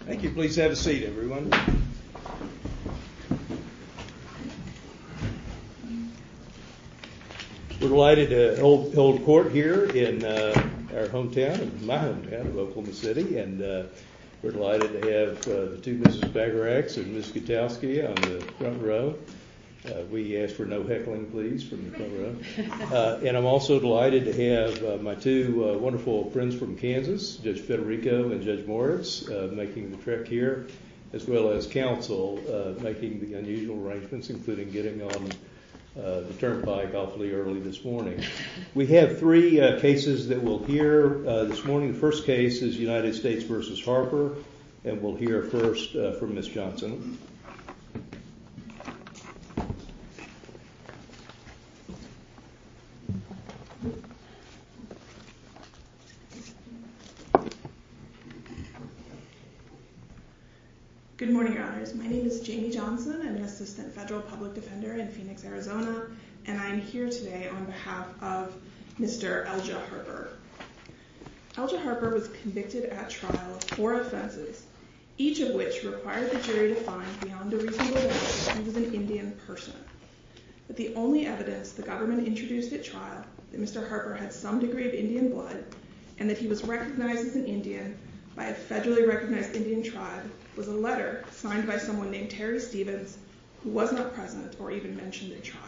thank you please have a seat everyone we're delighted to hold court here in our hometown of Oklahoma City and we're delighted to have two Mrs. Bagarax and Ms. Gutowski on the front row we ask for no heckling please from the front row and I'm also delighted to have my two wonderful friends from Kansas Judge Federico and Judge Morris making the trek here as well as counsel making the unusual arrangements including getting on the turnpike awfully early this morning we have three cases that we'll hear this morning the first case is United States versus Harper and we'll hear first from Miss Johnson good morning my name is Jamie Johnson I'm an assistant federal public defender in Phoenix Arizona and I'm here today on behalf of Mr. Elja Harper Elja Harper was convicted at trial for offenses each of which required the jury to find beyond a reasonable doubt he was an Indian person but the only evidence the government introduced at trial that Mr. Harper had some degree of Indian blood and that he was recognized as an Indian by a federally recognized Indian tribe was a letter signed by someone named Terry Stevens who was not present or even mentioned at trial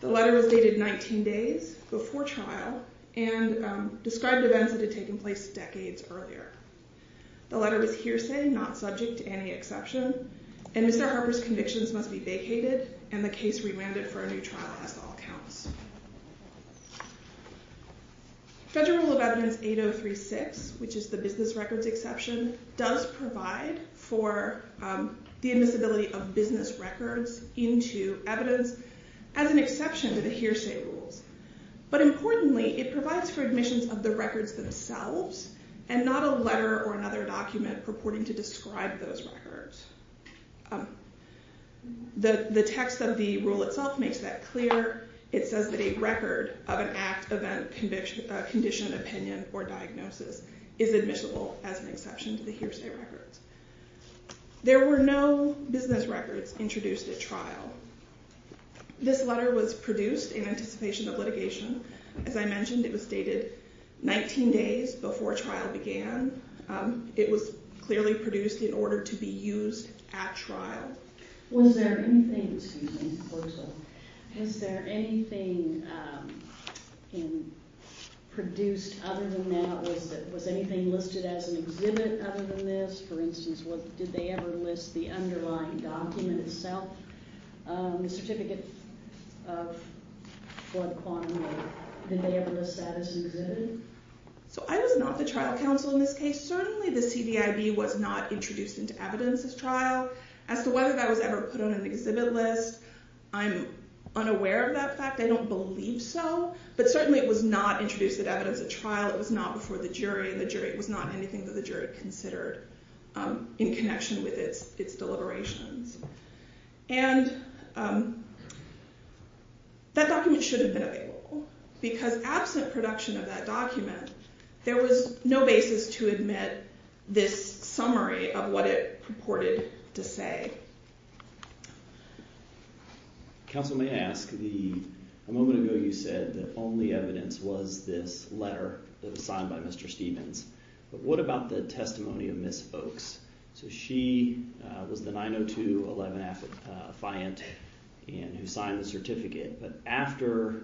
the letter was dated 19 days before trial and described events that had taken place decades earlier the letter was hearsay not subject to any exception and Mr. Harper's convictions must be vacated and the case remanded for a new trial as to all counts. Federal Rule of Evidence 8036 which is the business records exception does provide for the admissibility of business records into evidence as an exception to the hearsay rules but importantly it provides for admissions of the records themselves and not a letter or another Federal Rule of Evidence 8036 itself makes that clear it says that a record of an act, event, condition, opinion, or diagnosis is admissible as an exception to the hearsay records. There were no business records introduced at trial. This letter was produced in anticipation of litigation. As I mentioned it was dated 19 days before trial began. It was clearly produced in order to be used at trial. Was there anything produced other than that? Was anything listed as an exhibit other than this? For instance, did they ever list the underlying document itself? The certificate of blood quantum? Did they ever list that as an exhibit? So I was not the trial counsel in this case. Certainly the CDIB was not introduced into evidence at trial. As to whether that was ever put on an exhibit list I'm unaware of that fact. I don't believe so but certainly it was not introduced at evidence at trial. It was not before the jury and the jury was not anything that the jury considered in connection with its deliberations and that document should have been available because absent production of that document there was no basis to admit this summary of what it purported to say. Counsel may ask, a moment ago you said the only evidence was this letter that was signed by Mr. Stevens but what about the testimony of Ms. Folks? So she was the 902-11 affiant and who signed the certificate but after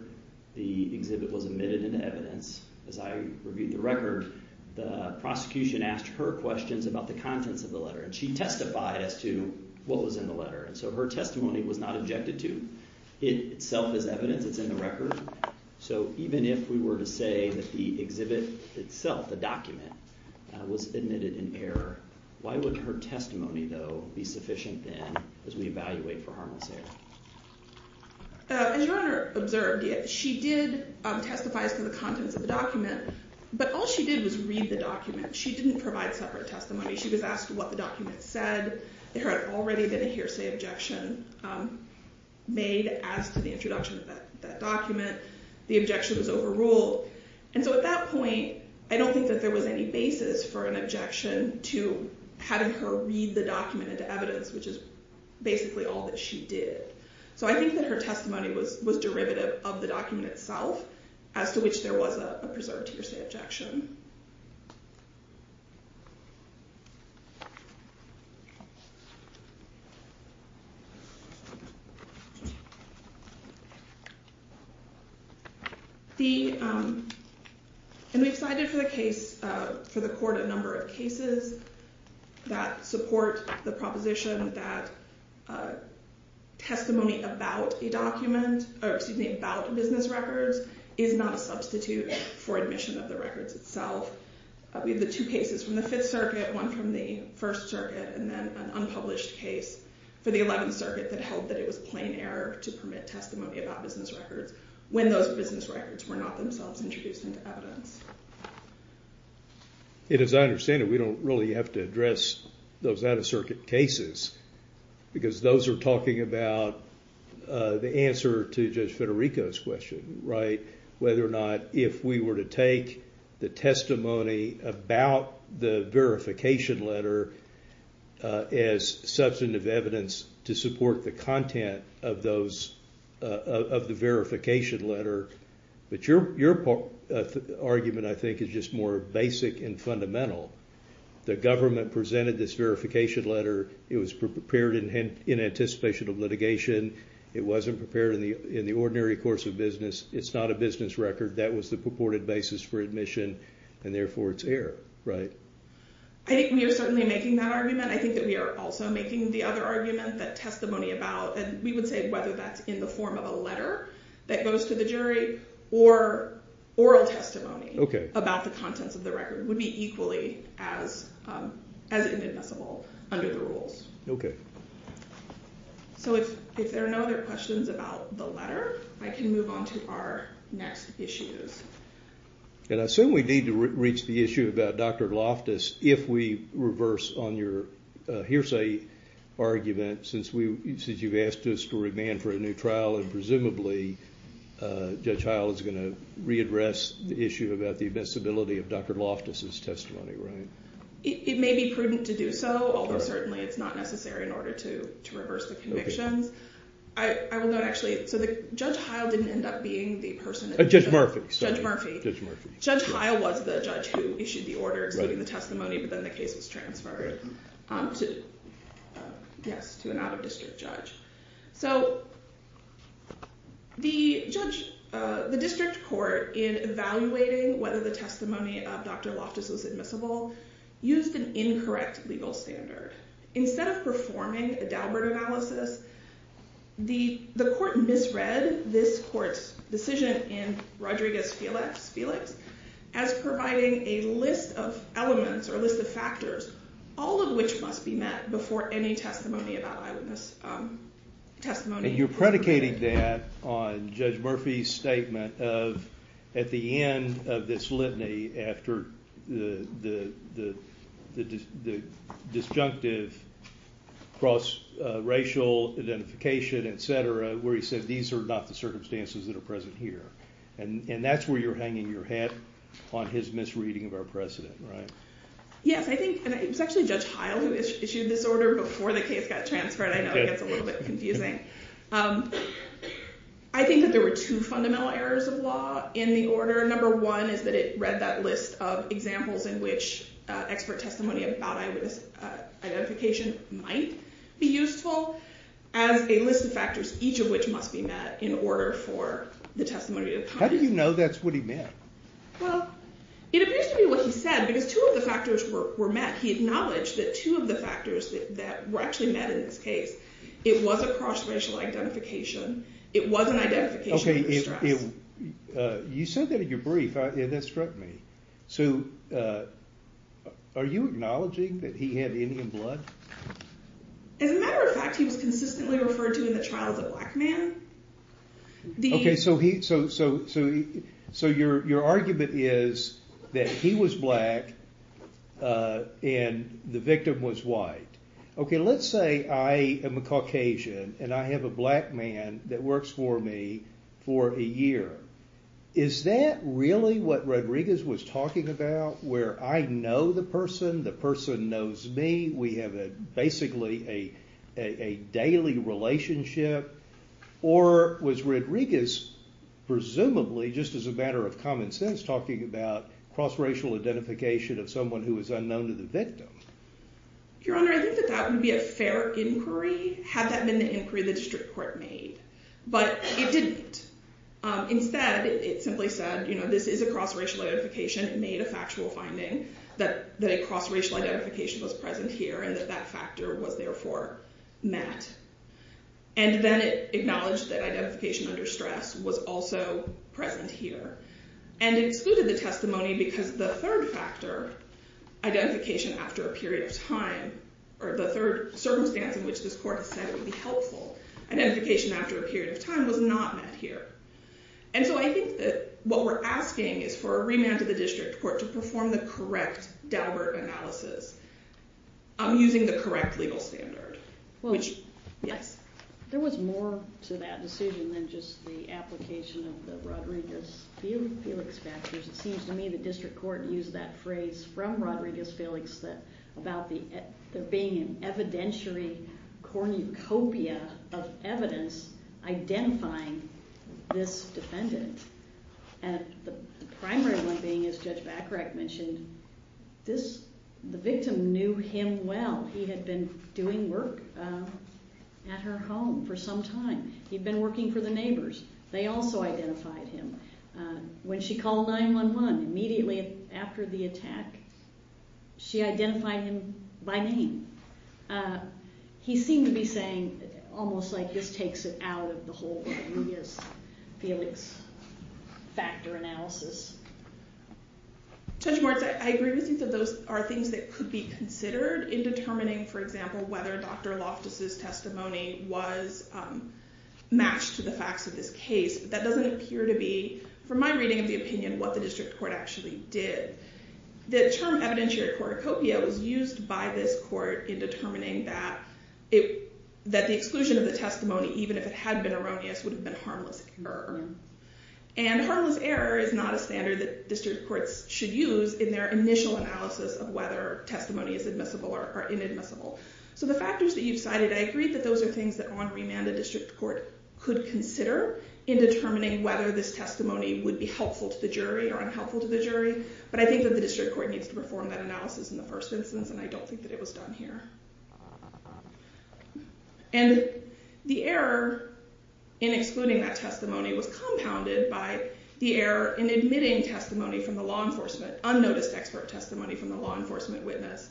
the exhibit was admitted into evidence as I reviewed the record the prosecution asked her questions about the contents of the letter and she testified as to what was in the letter and so her testimony was not objected to. It itself is evidence it's in the record so even if we were to say that the exhibit itself the document was admitted in error why would her testimony though be sufficient then as we evaluate for harmless error? As your Honor observed she did testify as to the contents of the document but all she did was read the document she didn't provide separate testimony she was asked what the document said. There had already been a hearsay objection made as to the introduction of that document. The objection was overruled and so at that point I don't think that there was any basis for an objection to having her read the document into evidence which is basically all that she did. So I think that her testimony was was derivative of the document itself as to which there was a preserved hearsay objection. And we've cited for the case for the court a number of cases that support the proposition that testimony about a document or excuse me about business records is not a substitute for admission of the records itself. We have the two cases from the Fifth Circuit one from the First Circuit and then an unpublished case for the Eleventh Circuit that held that it was plain error to permit testimony about business records when those business records were not themselves introduced into evidence. As I understand it we don't really have to address those out-of-circuit cases because those are talking about the answer to Judge Federico's question right whether or not if we were to take the testimony about the verification letter as substantive evidence to support the content of those of the I think is just more basic and fundamental. The government presented this verification letter. It was prepared in anticipation of litigation. It wasn't prepared in the in the ordinary course of business. It's not a business record. That was the purported basis for admission and therefore it's error, right? I think we are certainly making that argument. I think that we are also making the other argument that testimony about and we would say whether that's in the of a letter that goes to the jury or oral testimony about the contents of the record would be equally as inadmissible under the rules. Okay. So if there are no other questions about the letter I can move on to our next issues. And I assume we need to reach the issue about Dr. Loftus if we reverse on your hearsay argument since you've asked us to remand for a new trial and presumably Judge Heil is going to readdress the issue about the invincibility of Dr. Loftus' testimony, right? It may be prudent to do so, although certainly it's not necessary in order to reverse the convictions. I will note actually, so Judge Heil didn't end up being the person... Judge Murphy. Judge Murphy. Judge Heil was the judge who issued the order exceeding the testimony but then the case was transferred to an out-of-district judge. So the district court in evaluating whether the testimony of Dr. Loftus was admissible used an incorrect legal standard. Instead of performing a Daubert analysis, the court misread this court's decision in Rodriguez-Felix as providing a list of elements or a list of factors, all of which must be met before any testimony about eyewitness testimony. And you're predicating that on Judge Murphy's statement of at the end of this litany after the disjunctive cross-racial identification, etc., where he said these are not the circumstances that are present here. And that's where you're hanging your hat on his misreading of precedent, right? Yes, I think, and it's actually Judge Heil who issued this order before the case got transferred. I know it's a little bit confusing. I think that there were two fundamental errors of law in the order. Number one is that it read that list of examples in which expert testimony about eyewitness identification might be useful as a list of factors, each of which must be met in order for the testimony... How do you know that's what he meant? Well, it appears to be what he said, because two of the factors were met. He acknowledged that two of the factors that were actually met in this case, it was a cross-racial identification, it was an identification of distress. Okay, you said that in your brief, that struck me. So are you acknowledging that he had Indian blood? As a matter of fact, he was consistently referred to in the trial as a black man. Okay, so your argument is that he was black and the victim was white. Okay, let's say I am a Caucasian and I have a black man that works for me for a year. Is that really what Rodriguez was talking about, where I know the person, the person knows me, we have basically a daily relationship? Or was Rodriguez, presumably, just as a matter of common sense, talking about cross-racial identification of someone who is unknown to the victim? Your Honor, I think that that would be a fair inquiry, had that been the inquiry the district court made. But it didn't. Instead, it simply said, you know, this is a cross-racial identification, it made a factual finding that a cross-racial identification was present here and that that factor was therefore met. And then it acknowledged that identification under stress was also present here and excluded the testimony because the third factor, identification after a period of time, or the third circumstance in which this court has said it would be helpful, identification after a period of time, was not met here. And so I think that what we're asking is for a deliberate analysis. I'm using the correct legal standard. There was more to that decision than just the application of the Rodriguez-Felix factors. It seems to me the district court used that phrase from Rodriguez-Felix about there being an evidentiary cornucopia of evidence identifying this defendant, and the primary one being, as Judge Bacharach mentioned, this, the victim knew him well. He had been doing work at her home for some time. He'd been working for the neighbors. They also identified him. When she called 911, immediately after the attack, she identified him by name. He seemed to be saying, almost like this takes it out of the whole thing, he is Rodriguez-Felix factor analysis. Judge Moritz, I agree with you that those are things that could be considered in determining, for example, whether Dr. Loftus' testimony was matched to the facts of this case, but that doesn't appear to be, from my reading of the opinion, what the district court actually did. The term evidentiary cornucopia was used by this court in determining that the exclusion of the testimony, even if it had been erroneous, would have been harmless. And harmless error is not a standard that district courts should use in their initial analysis of whether testimony is admissible or inadmissible. So the factors that you've cited, I agree that those are things that on remand a district court could consider in determining whether this testimony would be helpful to the jury or unhelpful to the jury, but I think that the district court needs to perform that analysis in the first instance, and I don't think that it was done here. And the error in excluding that testimony was compounded by the error in admitting testimony from the law enforcement, unnoticed expert testimony from the law enforcement witness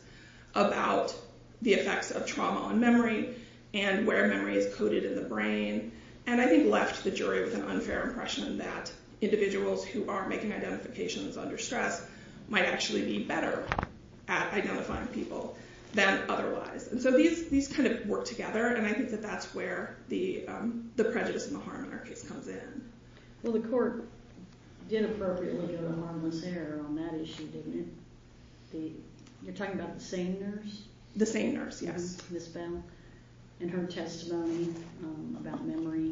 about the effects of trauma on memory and where memory is coded in the brain, and I think left the jury with an unfair impression that individuals who are making identifications under stress might actually be better at identifying people than otherwise. And so these kind of work together, and I think that's where the prejudice and the harm in our case comes in. Well, the court did appropriately go to harmless error on that issue, didn't it? You're talking about the SANE nurse? The SANE nurse, yes. And her testimony about memory,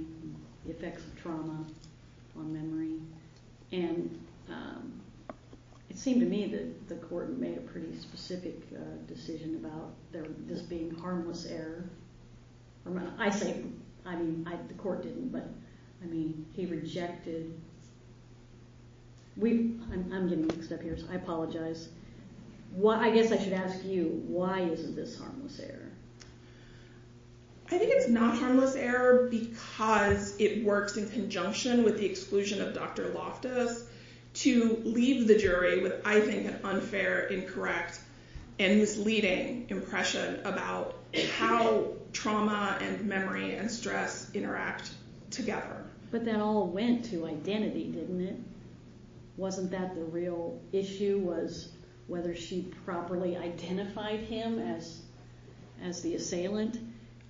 the effects of trauma on memory, and it seemed to me that the court made a pretty specific decision about this being harmless error. I say, I mean, the court didn't, but I mean, he rejected. I'm getting mixed up here, so I apologize. I guess I should ask you, why isn't this harmless error? I think it's not harmless error because it works in conjunction with the exclusion of Dr. Loftus to leave the jury with, I think, an unfair, incorrect, and misleading impression about how trauma and memory and stress interact together. But that all went to identity, didn't it? Wasn't that the real issue, was whether she properly identified him as the assailant?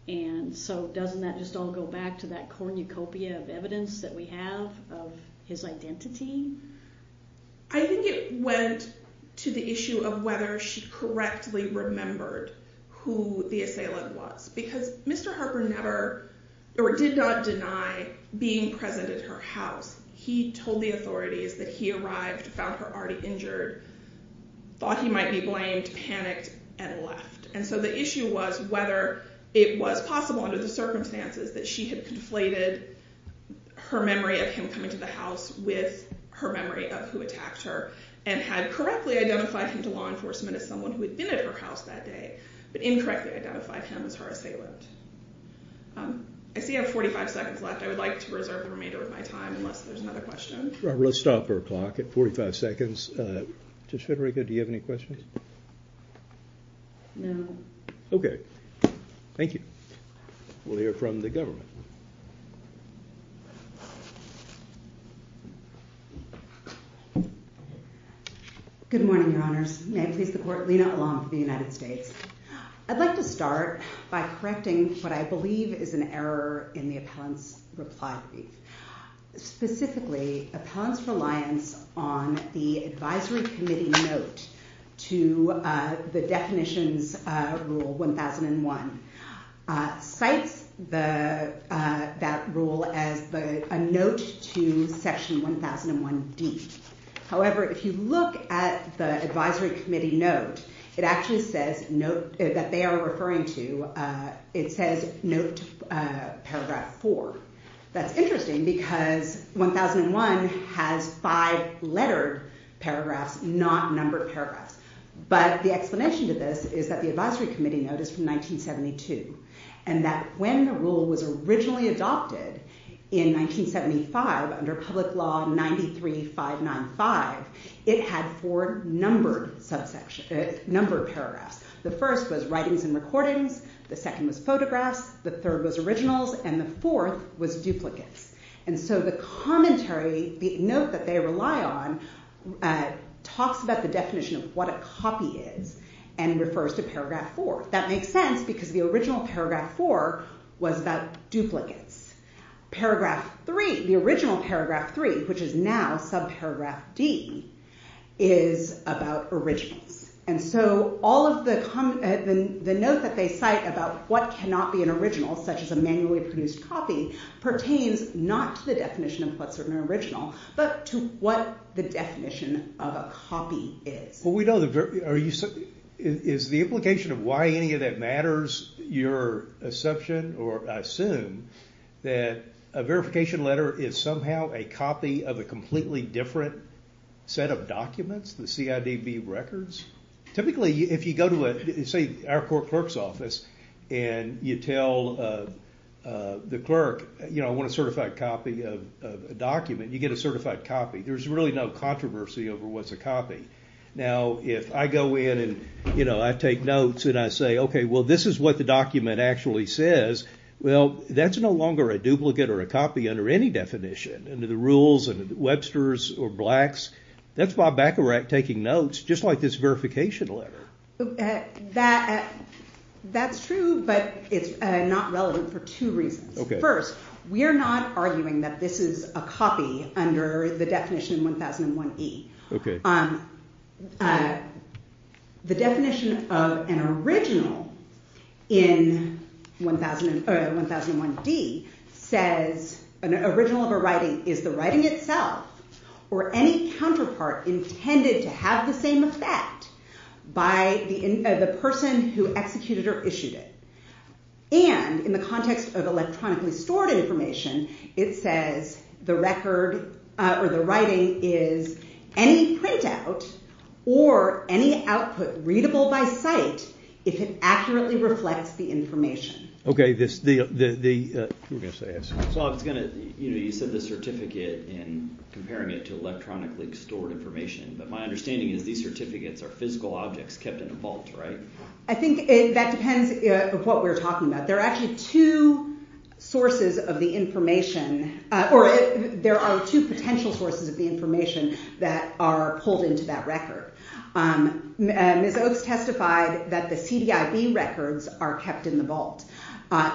And so doesn't that just all go back to that cornucopia of evidence that we have of his identity? I think it went to the issue of whether she correctly remembered who the assailant was, because Mr. Harper never, or did not deny being present at her house. He told the authorities that he arrived, found her already injured, thought he might be blamed, panicked, and left. And so the issue was whether it was possible under the circumstances that she had conflated her memory of him coming to the house with her memory of who attacked her, and had correctly identified him to law enforcement as someone who had been at her house that day, but incorrectly identified him as her assailant. I see I have 45 seconds left. I would like to reserve the remainder of my time unless there's another question. Robert, let's stop our clock at 45 seconds. Judge Federico, do you have any questions? No. Okay. Thank you. We'll hear from the government. Good morning, Your Honors. May it please the Court, Lena Elam of the United States. I'd like to start by correcting what I believe is an error in the appellant's reply brief. Specifically, the appellant's reliance on the advisory committee note to the definitions rule 1001 cites that rule as a note to section 1001D. However, if you look at the advisory committee note, it actually says, that they are referring to, it says note paragraph four. That's interesting because 1001 has five lettered paragraphs, not numbered paragraphs. But the explanation to this is that the advisory committee note is from 1972, and that when the rule was originally adopted in 1975 under public law 93595, it had four numbered paragraphs. The first was writings and recordings. The second was photographs. The third was originals. And the fourth was duplicates. And so the commentary, the note that they rely on, talks about the definition of what a copy is. And it refers to paragraph four. That makes sense because the original paragraph four was about duplicates. Paragraph three, the original paragraph three, which is now subparagraph D, is about originals. And so all of the notes that they cite about what cannot be an original, such as a manually produced copy, pertains not to the definition of what's an original, but to what the definition of a copy is. Is the implication of why any of that matters your assumption, or I assume, that a verification letter is somehow a copy of a completely different set of documents, the CIDB records? Typically, if you go to, say, our clerk's office, and you tell the clerk, you know, I want a certified copy of a document, you get a certified copy. There's really no controversy over what's a copy. Now, if I go in and, you know, I take notes, and I say, okay, well, this is what the document actually says, well, that's no longer a duplicate or a copy under any definition, under the rules, under Webster's or Black's. That's Bob Bacharach taking notes, just like this verification letter. That's true, but it's not relevant for two reasons. First, we're not arguing that this is a copy under the definition 1001E. The definition of an original in 1001D says, an original of a writing is the writing itself or any counterpart intended to have the same effect by the person who executed or issued it. And in the context of electronically stored information, it says the record or the writing is any printout or any output readable by sight if it accurately reflects the information. Okay. Bob, you said the certificate and comparing it to electronically stored information, but my understanding is these certificates are physical objects kept in a vault, right? I think that depends on what we're talking about. There are actually two sources of the information, or there are two potential sources of the information that are pulled into that record. Ms. Oaks testified that the CDIB records are kept in the vault.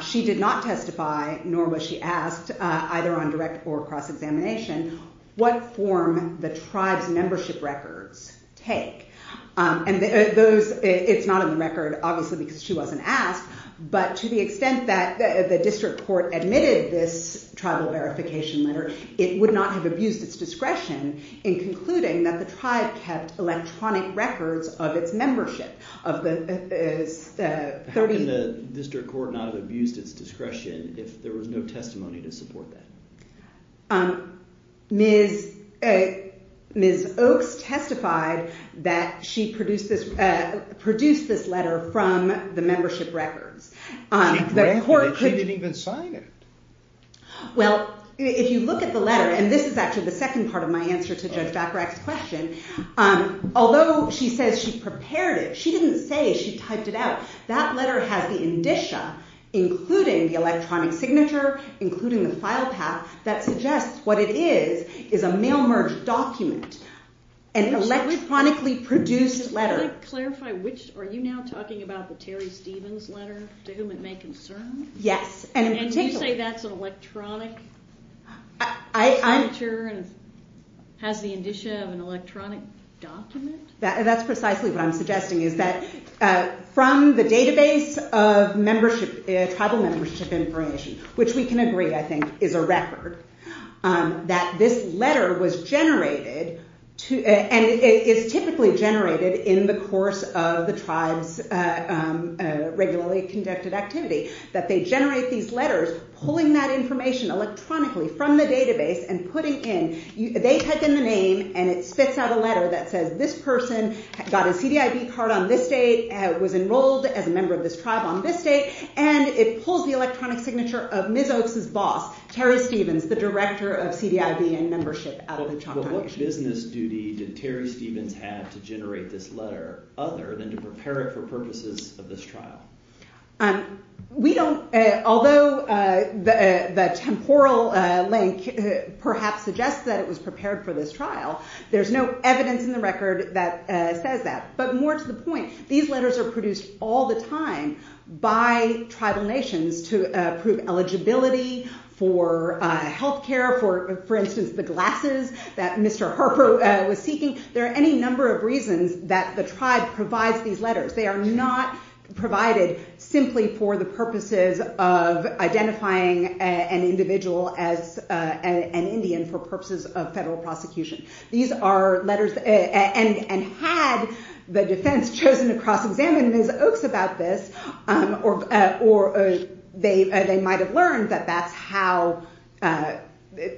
She did not testify, nor was she asked, either on direct or cross-examination, what form the tribe's membership records take. It's not in the record, obviously, because she wasn't asked, but to the extent that the district court admitted this tribal verification letter, it would not have abused its discretion in concluding that the tribe kept electronic records of its membership of the 30... Wouldn't the district court not have abused its discretion if there was no testimony to support that? Ms. Oaks testified that she produced this letter from the membership records. The court could... She didn't even sign it. Well, if you look at the letter, and this is actually the second part of my answer to Judge Bacharach's question, although she says she prepared it, she didn't say she typed it out. That letter has the indicia, including the electronic signature, including the file path, that suggests what it is is a mail-merged document, an electronically produced letter. Just to clarify, are you now talking about the Terry Stevens letter, to whom it may concern? Yes, and in particular... And you say that's an electronic signature and has the indicia of an electronic document? That's precisely what I'm suggesting, is that from the database of tribal membership information, which we can agree, I think, is a record, that this letter was generated, and is typically generated in the course of the tribe's regularly conducted activity, that they generate these letters pulling that information electronically from the database and putting in... They type in the name, and it spits out a letter that says this person got a CDIB card on this date, was enrolled as a member of this tribe on this date, and it pulls the electronic signature of Ms. Oaks' boss, Terry Stevens, the director of CDIB and membership out of the Choctaw Nation. But what business duty did Terry Stevens have to generate this letter other than to prepare it for purposes of this trial? We don't... Although the temporal link perhaps suggests that it was prepared for this trial, there's no record that says that. But more to the point, these letters are produced all the time by tribal nations to prove eligibility for health care, for instance the glasses that Mr. Harper was seeking. There are any number of reasons that the tribe provides these letters. They are not provided simply for the purposes of identifying an individual as an Indian for purposes of federal prosecution. And had the defense chosen to cross-examine Ms. Oaks about this, they might have learned that that's how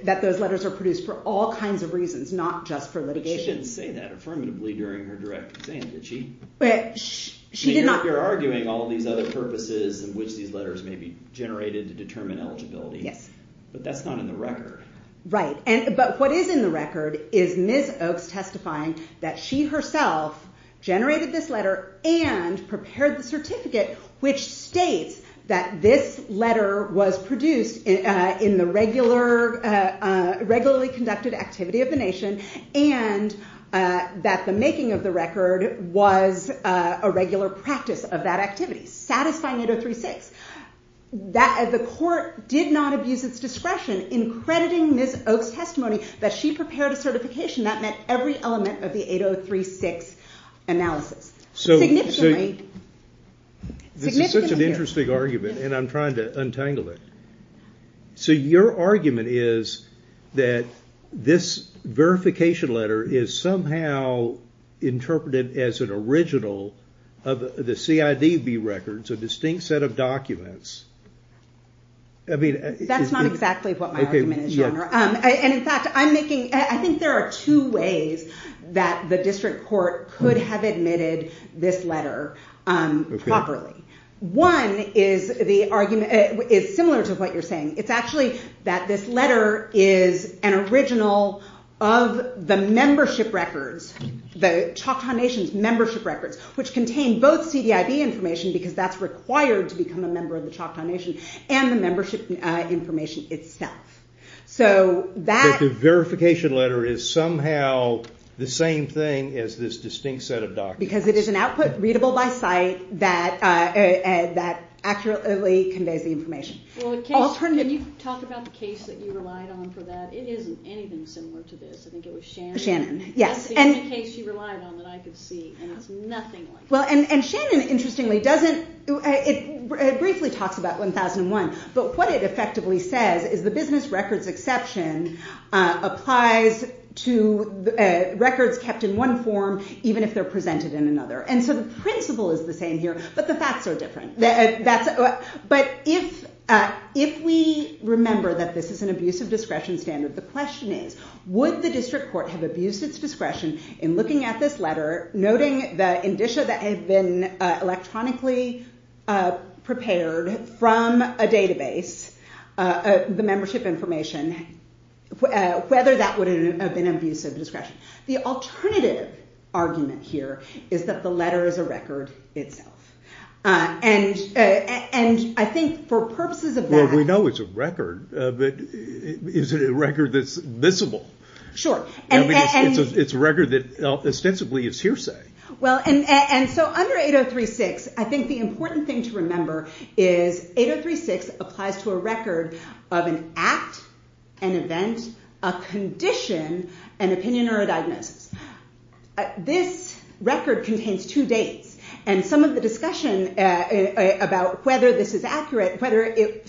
that those letters are produced for all kinds of reasons, not just for litigation. But she didn't say that affirmatively during her direct exam. You're arguing all these other purposes in which these letters may be generated to determine eligibility. Yes. But that's not in the record. Right. But what is in the record is Ms. Oaks testifying that she herself generated this letter and prepared the certificate which states that this letter was produced in the regularly conducted activity of the nation and that the making of the record was a regular practice of that activity. Satisfying 803.6. The court did not abuse its discretion in crediting Ms. Oaks' testimony that she prepared a certification that met every element of the 803.6 analysis. Significantly. This is such an interesting argument and I'm trying to untangle it. So your argument is that this verification letter is somehow interpreted as an original of the CIDB records, a distinct set of documents. That's not exactly what my argument is, Your Honor. And in fact, I think there are two ways that the district court could have admitted this letter properly. One is similar to what you're saying. It's actually that this letter is an original of the membership records, the Choctaw Nation's membership records which contain both the documents required to become a member of the Choctaw Nation and the membership information itself. So that... But the verification letter is somehow the same thing as this distinct set of documents. Because it is an output readable by sight that accurately conveys the information. Well, can you talk about the case that you relied on for that? It isn't anything similar to this. I think it was Shannon. Shannon, yes. That's the only case she relied on that I could see and it's nothing like that. And Shannon, interestingly, doesn't... It briefly talks about 1001 but what it effectively says is the business records exception applies to records kept in one form even if they're presented in another. And so the principle is the same here but the facts are different. But if we remember that this is an abuse of discretion standard the question is would the district court have abused its discretion in looking at this letter noting the indicia that had been electronically prepared from a database the membership information whether that would have been an abuse of discretion. The alternative argument here is that the letter is a record itself. And I think for purposes of that... Well, we know it's a record but is it a record that's visible? Sure. It's a record that ostensibly is hearsay Well, and so under 8036 I think the important thing to remember is 8036 applies to a record of an act an event a condition an opinion or a diagnosis. This record contains two dates and some of the discussion about whether this is accurate whether it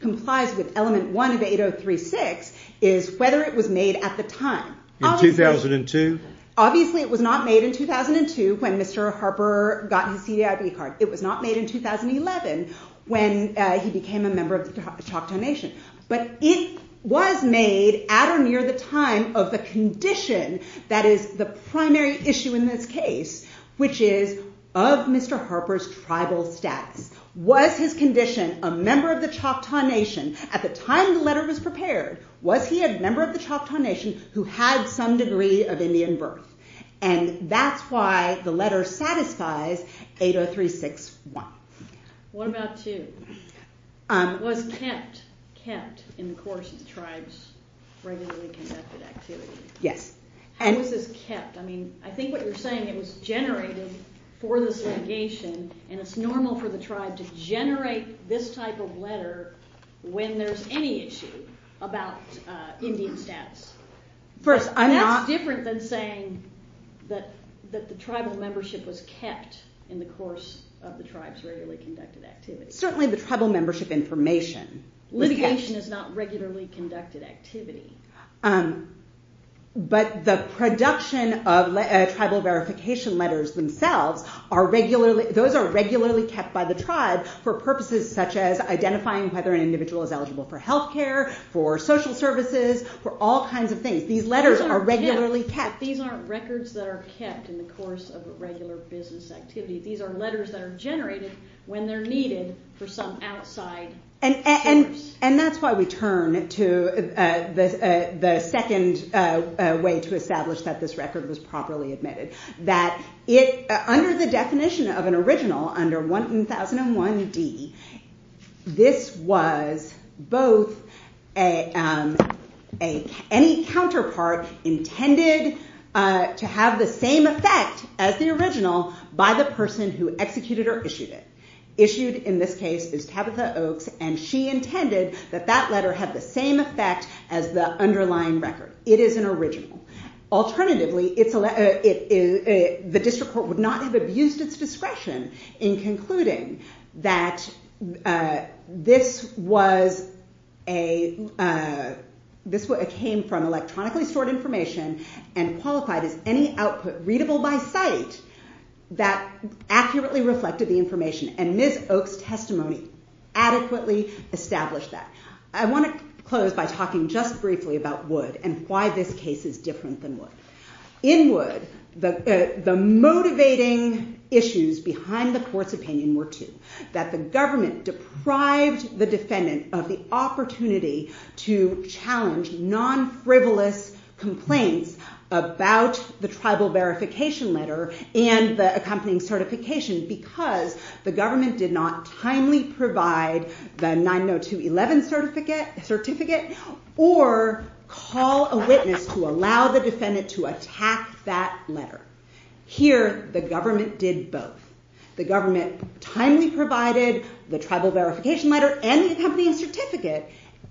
complies with element 1 of 8036 is whether it was made at the time. In 2002? Obviously it was not made in 2002 when Mr. Harper got his CDIB card. It was not made in 2011 when he became a member of the Choctaw Nation. But it was made at or near the time of the condition that is the primary issue in this case which is of Mr. Harper's tribal status. Was his condition a member of the Choctaw Nation at the time the letter was prepared was he a member of the Choctaw Nation who had some degree of Indian birth and that's why the letter satisfies 8036. What about 2? It was kept kept in the course of the tribe's regularly conducted activity. Yes. How was this kept? I mean I think what you're saying it was generated for the segregation and it's normal for the tribe to generate this type of when there's any issue about Indian status. That's different than saying that the tribal membership was kept in the course of the tribe's regularly conducted activity. Certainly the tribal membership information. Litigation is not regularly conducted activity. But the production of tribal verification letters themselves are regularly kept by the tribe for purposes such as whether an is eligible for healthcare for social services for all kinds of things. These letters are regularly kept. These aren't records that are kept in the course of a regular business activity. These are letters that are generated when they're needed for some outside purpose. And that's why we turn to the second way to establish that this record was properly admitted. Under the definition of an original under 1001D, this was both any counterpart intended to have the same effect as the original by the person who executed or issued it. Issued in this case is Tabitha Oaks and she intended that that letter had the same effect as the underlying record. It is an original The district court would not have abused its discretion in concluding that this was a this came from electronically stored information and qualified as any output readable by sight that accurately reflected the And Ms. Oaks' adequately established that. I want to close by talking just briefly about Wood and why this case is different than In Wood, the motivating issues behind the court's opinion were two. That the deprived the defendant of the opportunity to challenge non-frivolous complaints about the verification letter and the accompanying certification because the government did not timely provide the 90211 certificate or call a witness to allow the defendant to attack that letter. Here the government did both. The government timely provided the tribal verification letter and the accompanying certificate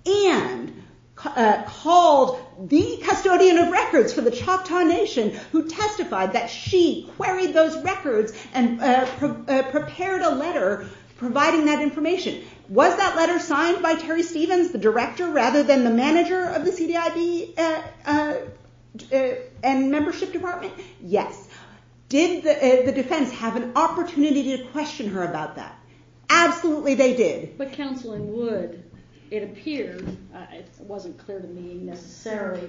and called the custodian of records for the Choctaw Nation who testified that she queried those records and prepared a letter providing that information. Was that letter signed by Terry Wood from the CDIB and membership department? Yes. Did the defense have an opportunity to question her about that? Absolutely they did. But Counsel in Wood, it appeared, it wasn't clear to me necessarily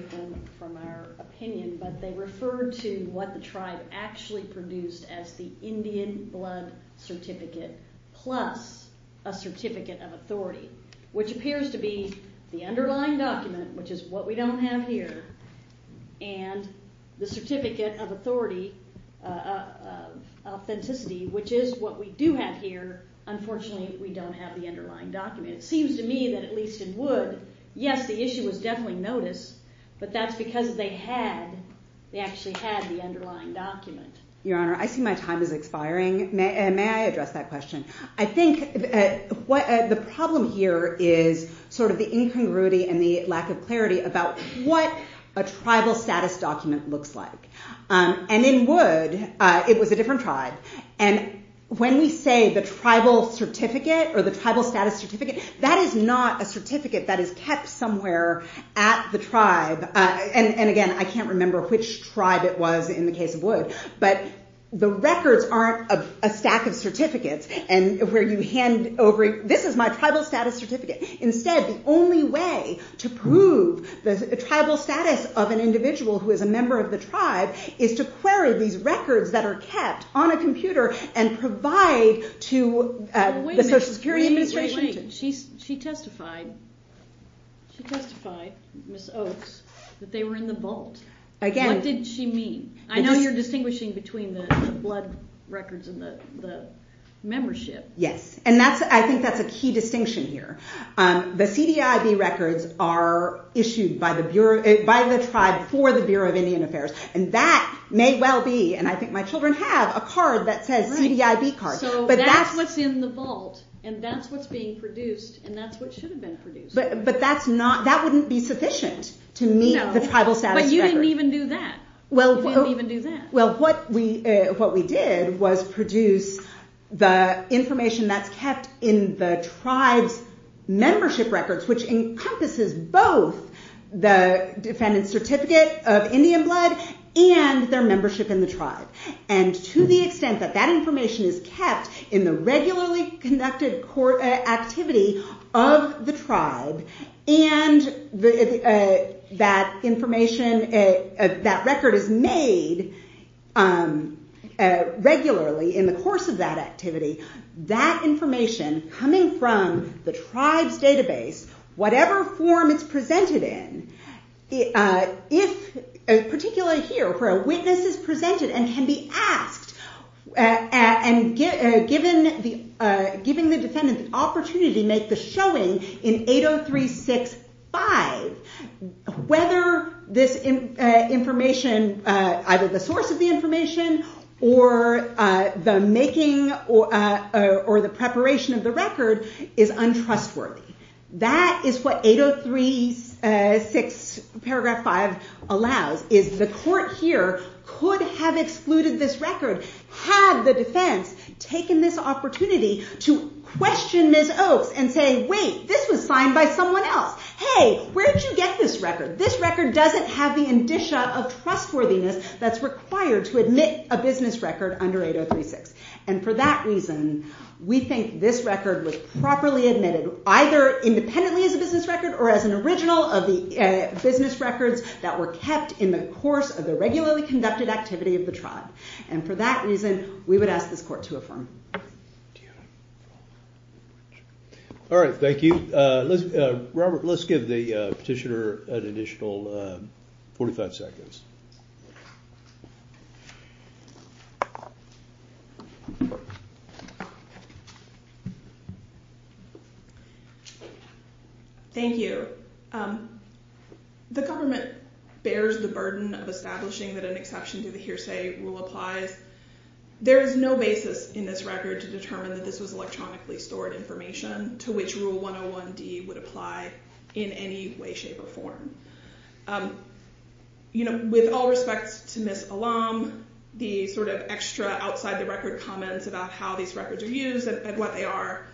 from our opinion, but they referred to what the tribe actually produced as the Indian blood certificate plus a certificate of authenticity what we don't have here and the certificate of authority, which is what we do have here. Unfortunately we don't have the document. It seems to me that at least in Wood, yes the issue was definitely notice, but that's because they actually had the underlying document. Your Honor, I see my time is expiring. May I address that question? I think the problem here is sort of the incongruity and the lack of clarity about what a tribal status document looks like. And in Wood, it was a different tribe. And when we say the tribal certificate or the tribal status certificate, that is not a certificate that is kept somewhere at the tribe. And again, I can't remember which tribe it was in the case of But the records aren't a stack of certificates where you hand over, this is my tribal status certificate. Instead, the only way to prove the tribal status of an individual who is a member of the tribe is to query these records that are kept on a computer and provide to the Social Security Administration. She testified, Ms. Oaks, that they were in the What did she mean? I know you're between the blood records and the Yes. And I think that's a key distinction here. The CDIB records are issued by the tribe for the Bureau of Indian Affairs. And that may well be, and I think my point is a fault and that's what's being produced and that's what should have been produced. But that wouldn't be sufficient to meet the tribal status record. No, but you didn't even do that. Well, what we did was produce the information that's kept in the tribe's records, which encompasses both the defendant's certificate of Indian blood and their pre-conducted activity of the tribe and that information, that record is made regularly in the course of that activity. That information coming from the tribe's whatever form it's presented in, if particularly here where a witness is presented and can be asked and given the defendant the opportunity to make the showing in 803.6.5 whether this information, either the source of or the making or the preparation of the record is untrustworthy. That is what 803.6.5 allows, is the court here could have excluded this record had the defense taken this opportunity to make the case question Ms. Oaks and say, wait, this was signed by someone else. Hey, where did you get this record? This record doesn't have the indicia of trustworthiness that's required to admit a business record under 803.6. And for that reason, we think this record was properly admitted either independently as a business record or as an independent record. All right. Thank you. Robert, let's give the petitioner an additional 45 seconds. Thank you. The government bears the burden of that an exception to the hearsay rule applies. There is no basis in this record to determine that this was electronically stored information to which rule 101D would apply in any way, shape, or With all respects to Ms. Alum, the extra outside-the-record comments about how these records are used and what they are,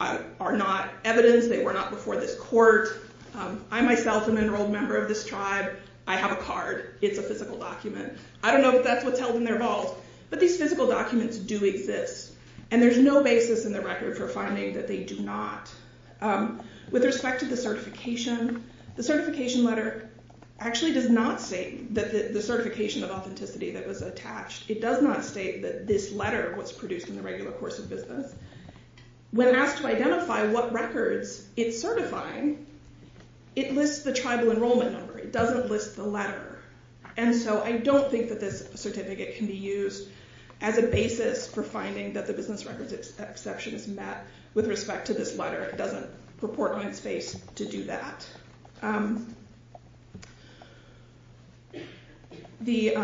are not evidence. They were not before this court. I, myself, am an enrolled member of this tribe. I have a It's a physical document. I don't know if that's what's held in their vault, but these physical documents do exist, and there's no basis in the record for finding that they do not. With respect to the certification, the certification letter actually does not state that the certification of authenticity that was attached, it does not state that this letter was produced in the regular course of When asked to identify what records it's certifying, it lists the tribal enrollment number. It doesn't list the letter. And so I don't think that this certificate can be used as a basis for finding that the business records exception is met with respect to this letter. It doesn't purport in its face to do that. The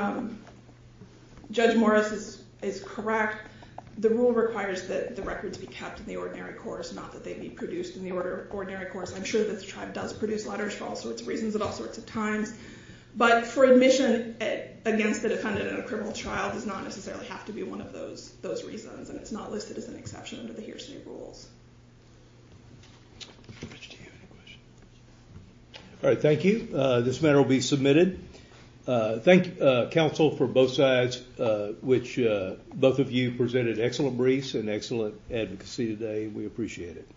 Judge Morris is correct. The rule requires that the records be kept in the ordinary course, not that they be produced in the ordinary course. I'm sure that the tribe does produce letters for all sorts of reasons at all sorts of times, but for admission against the defendant in a criminal trial, it does not necessarily have to be one of those reasons. It's not listed as an exception under the hearsay rules. All right. Thank you. This matter will be submitted. Thank you, counsel, for both sides, which both of you presented excellent briefs and excellent advocacy today. We appreciate it.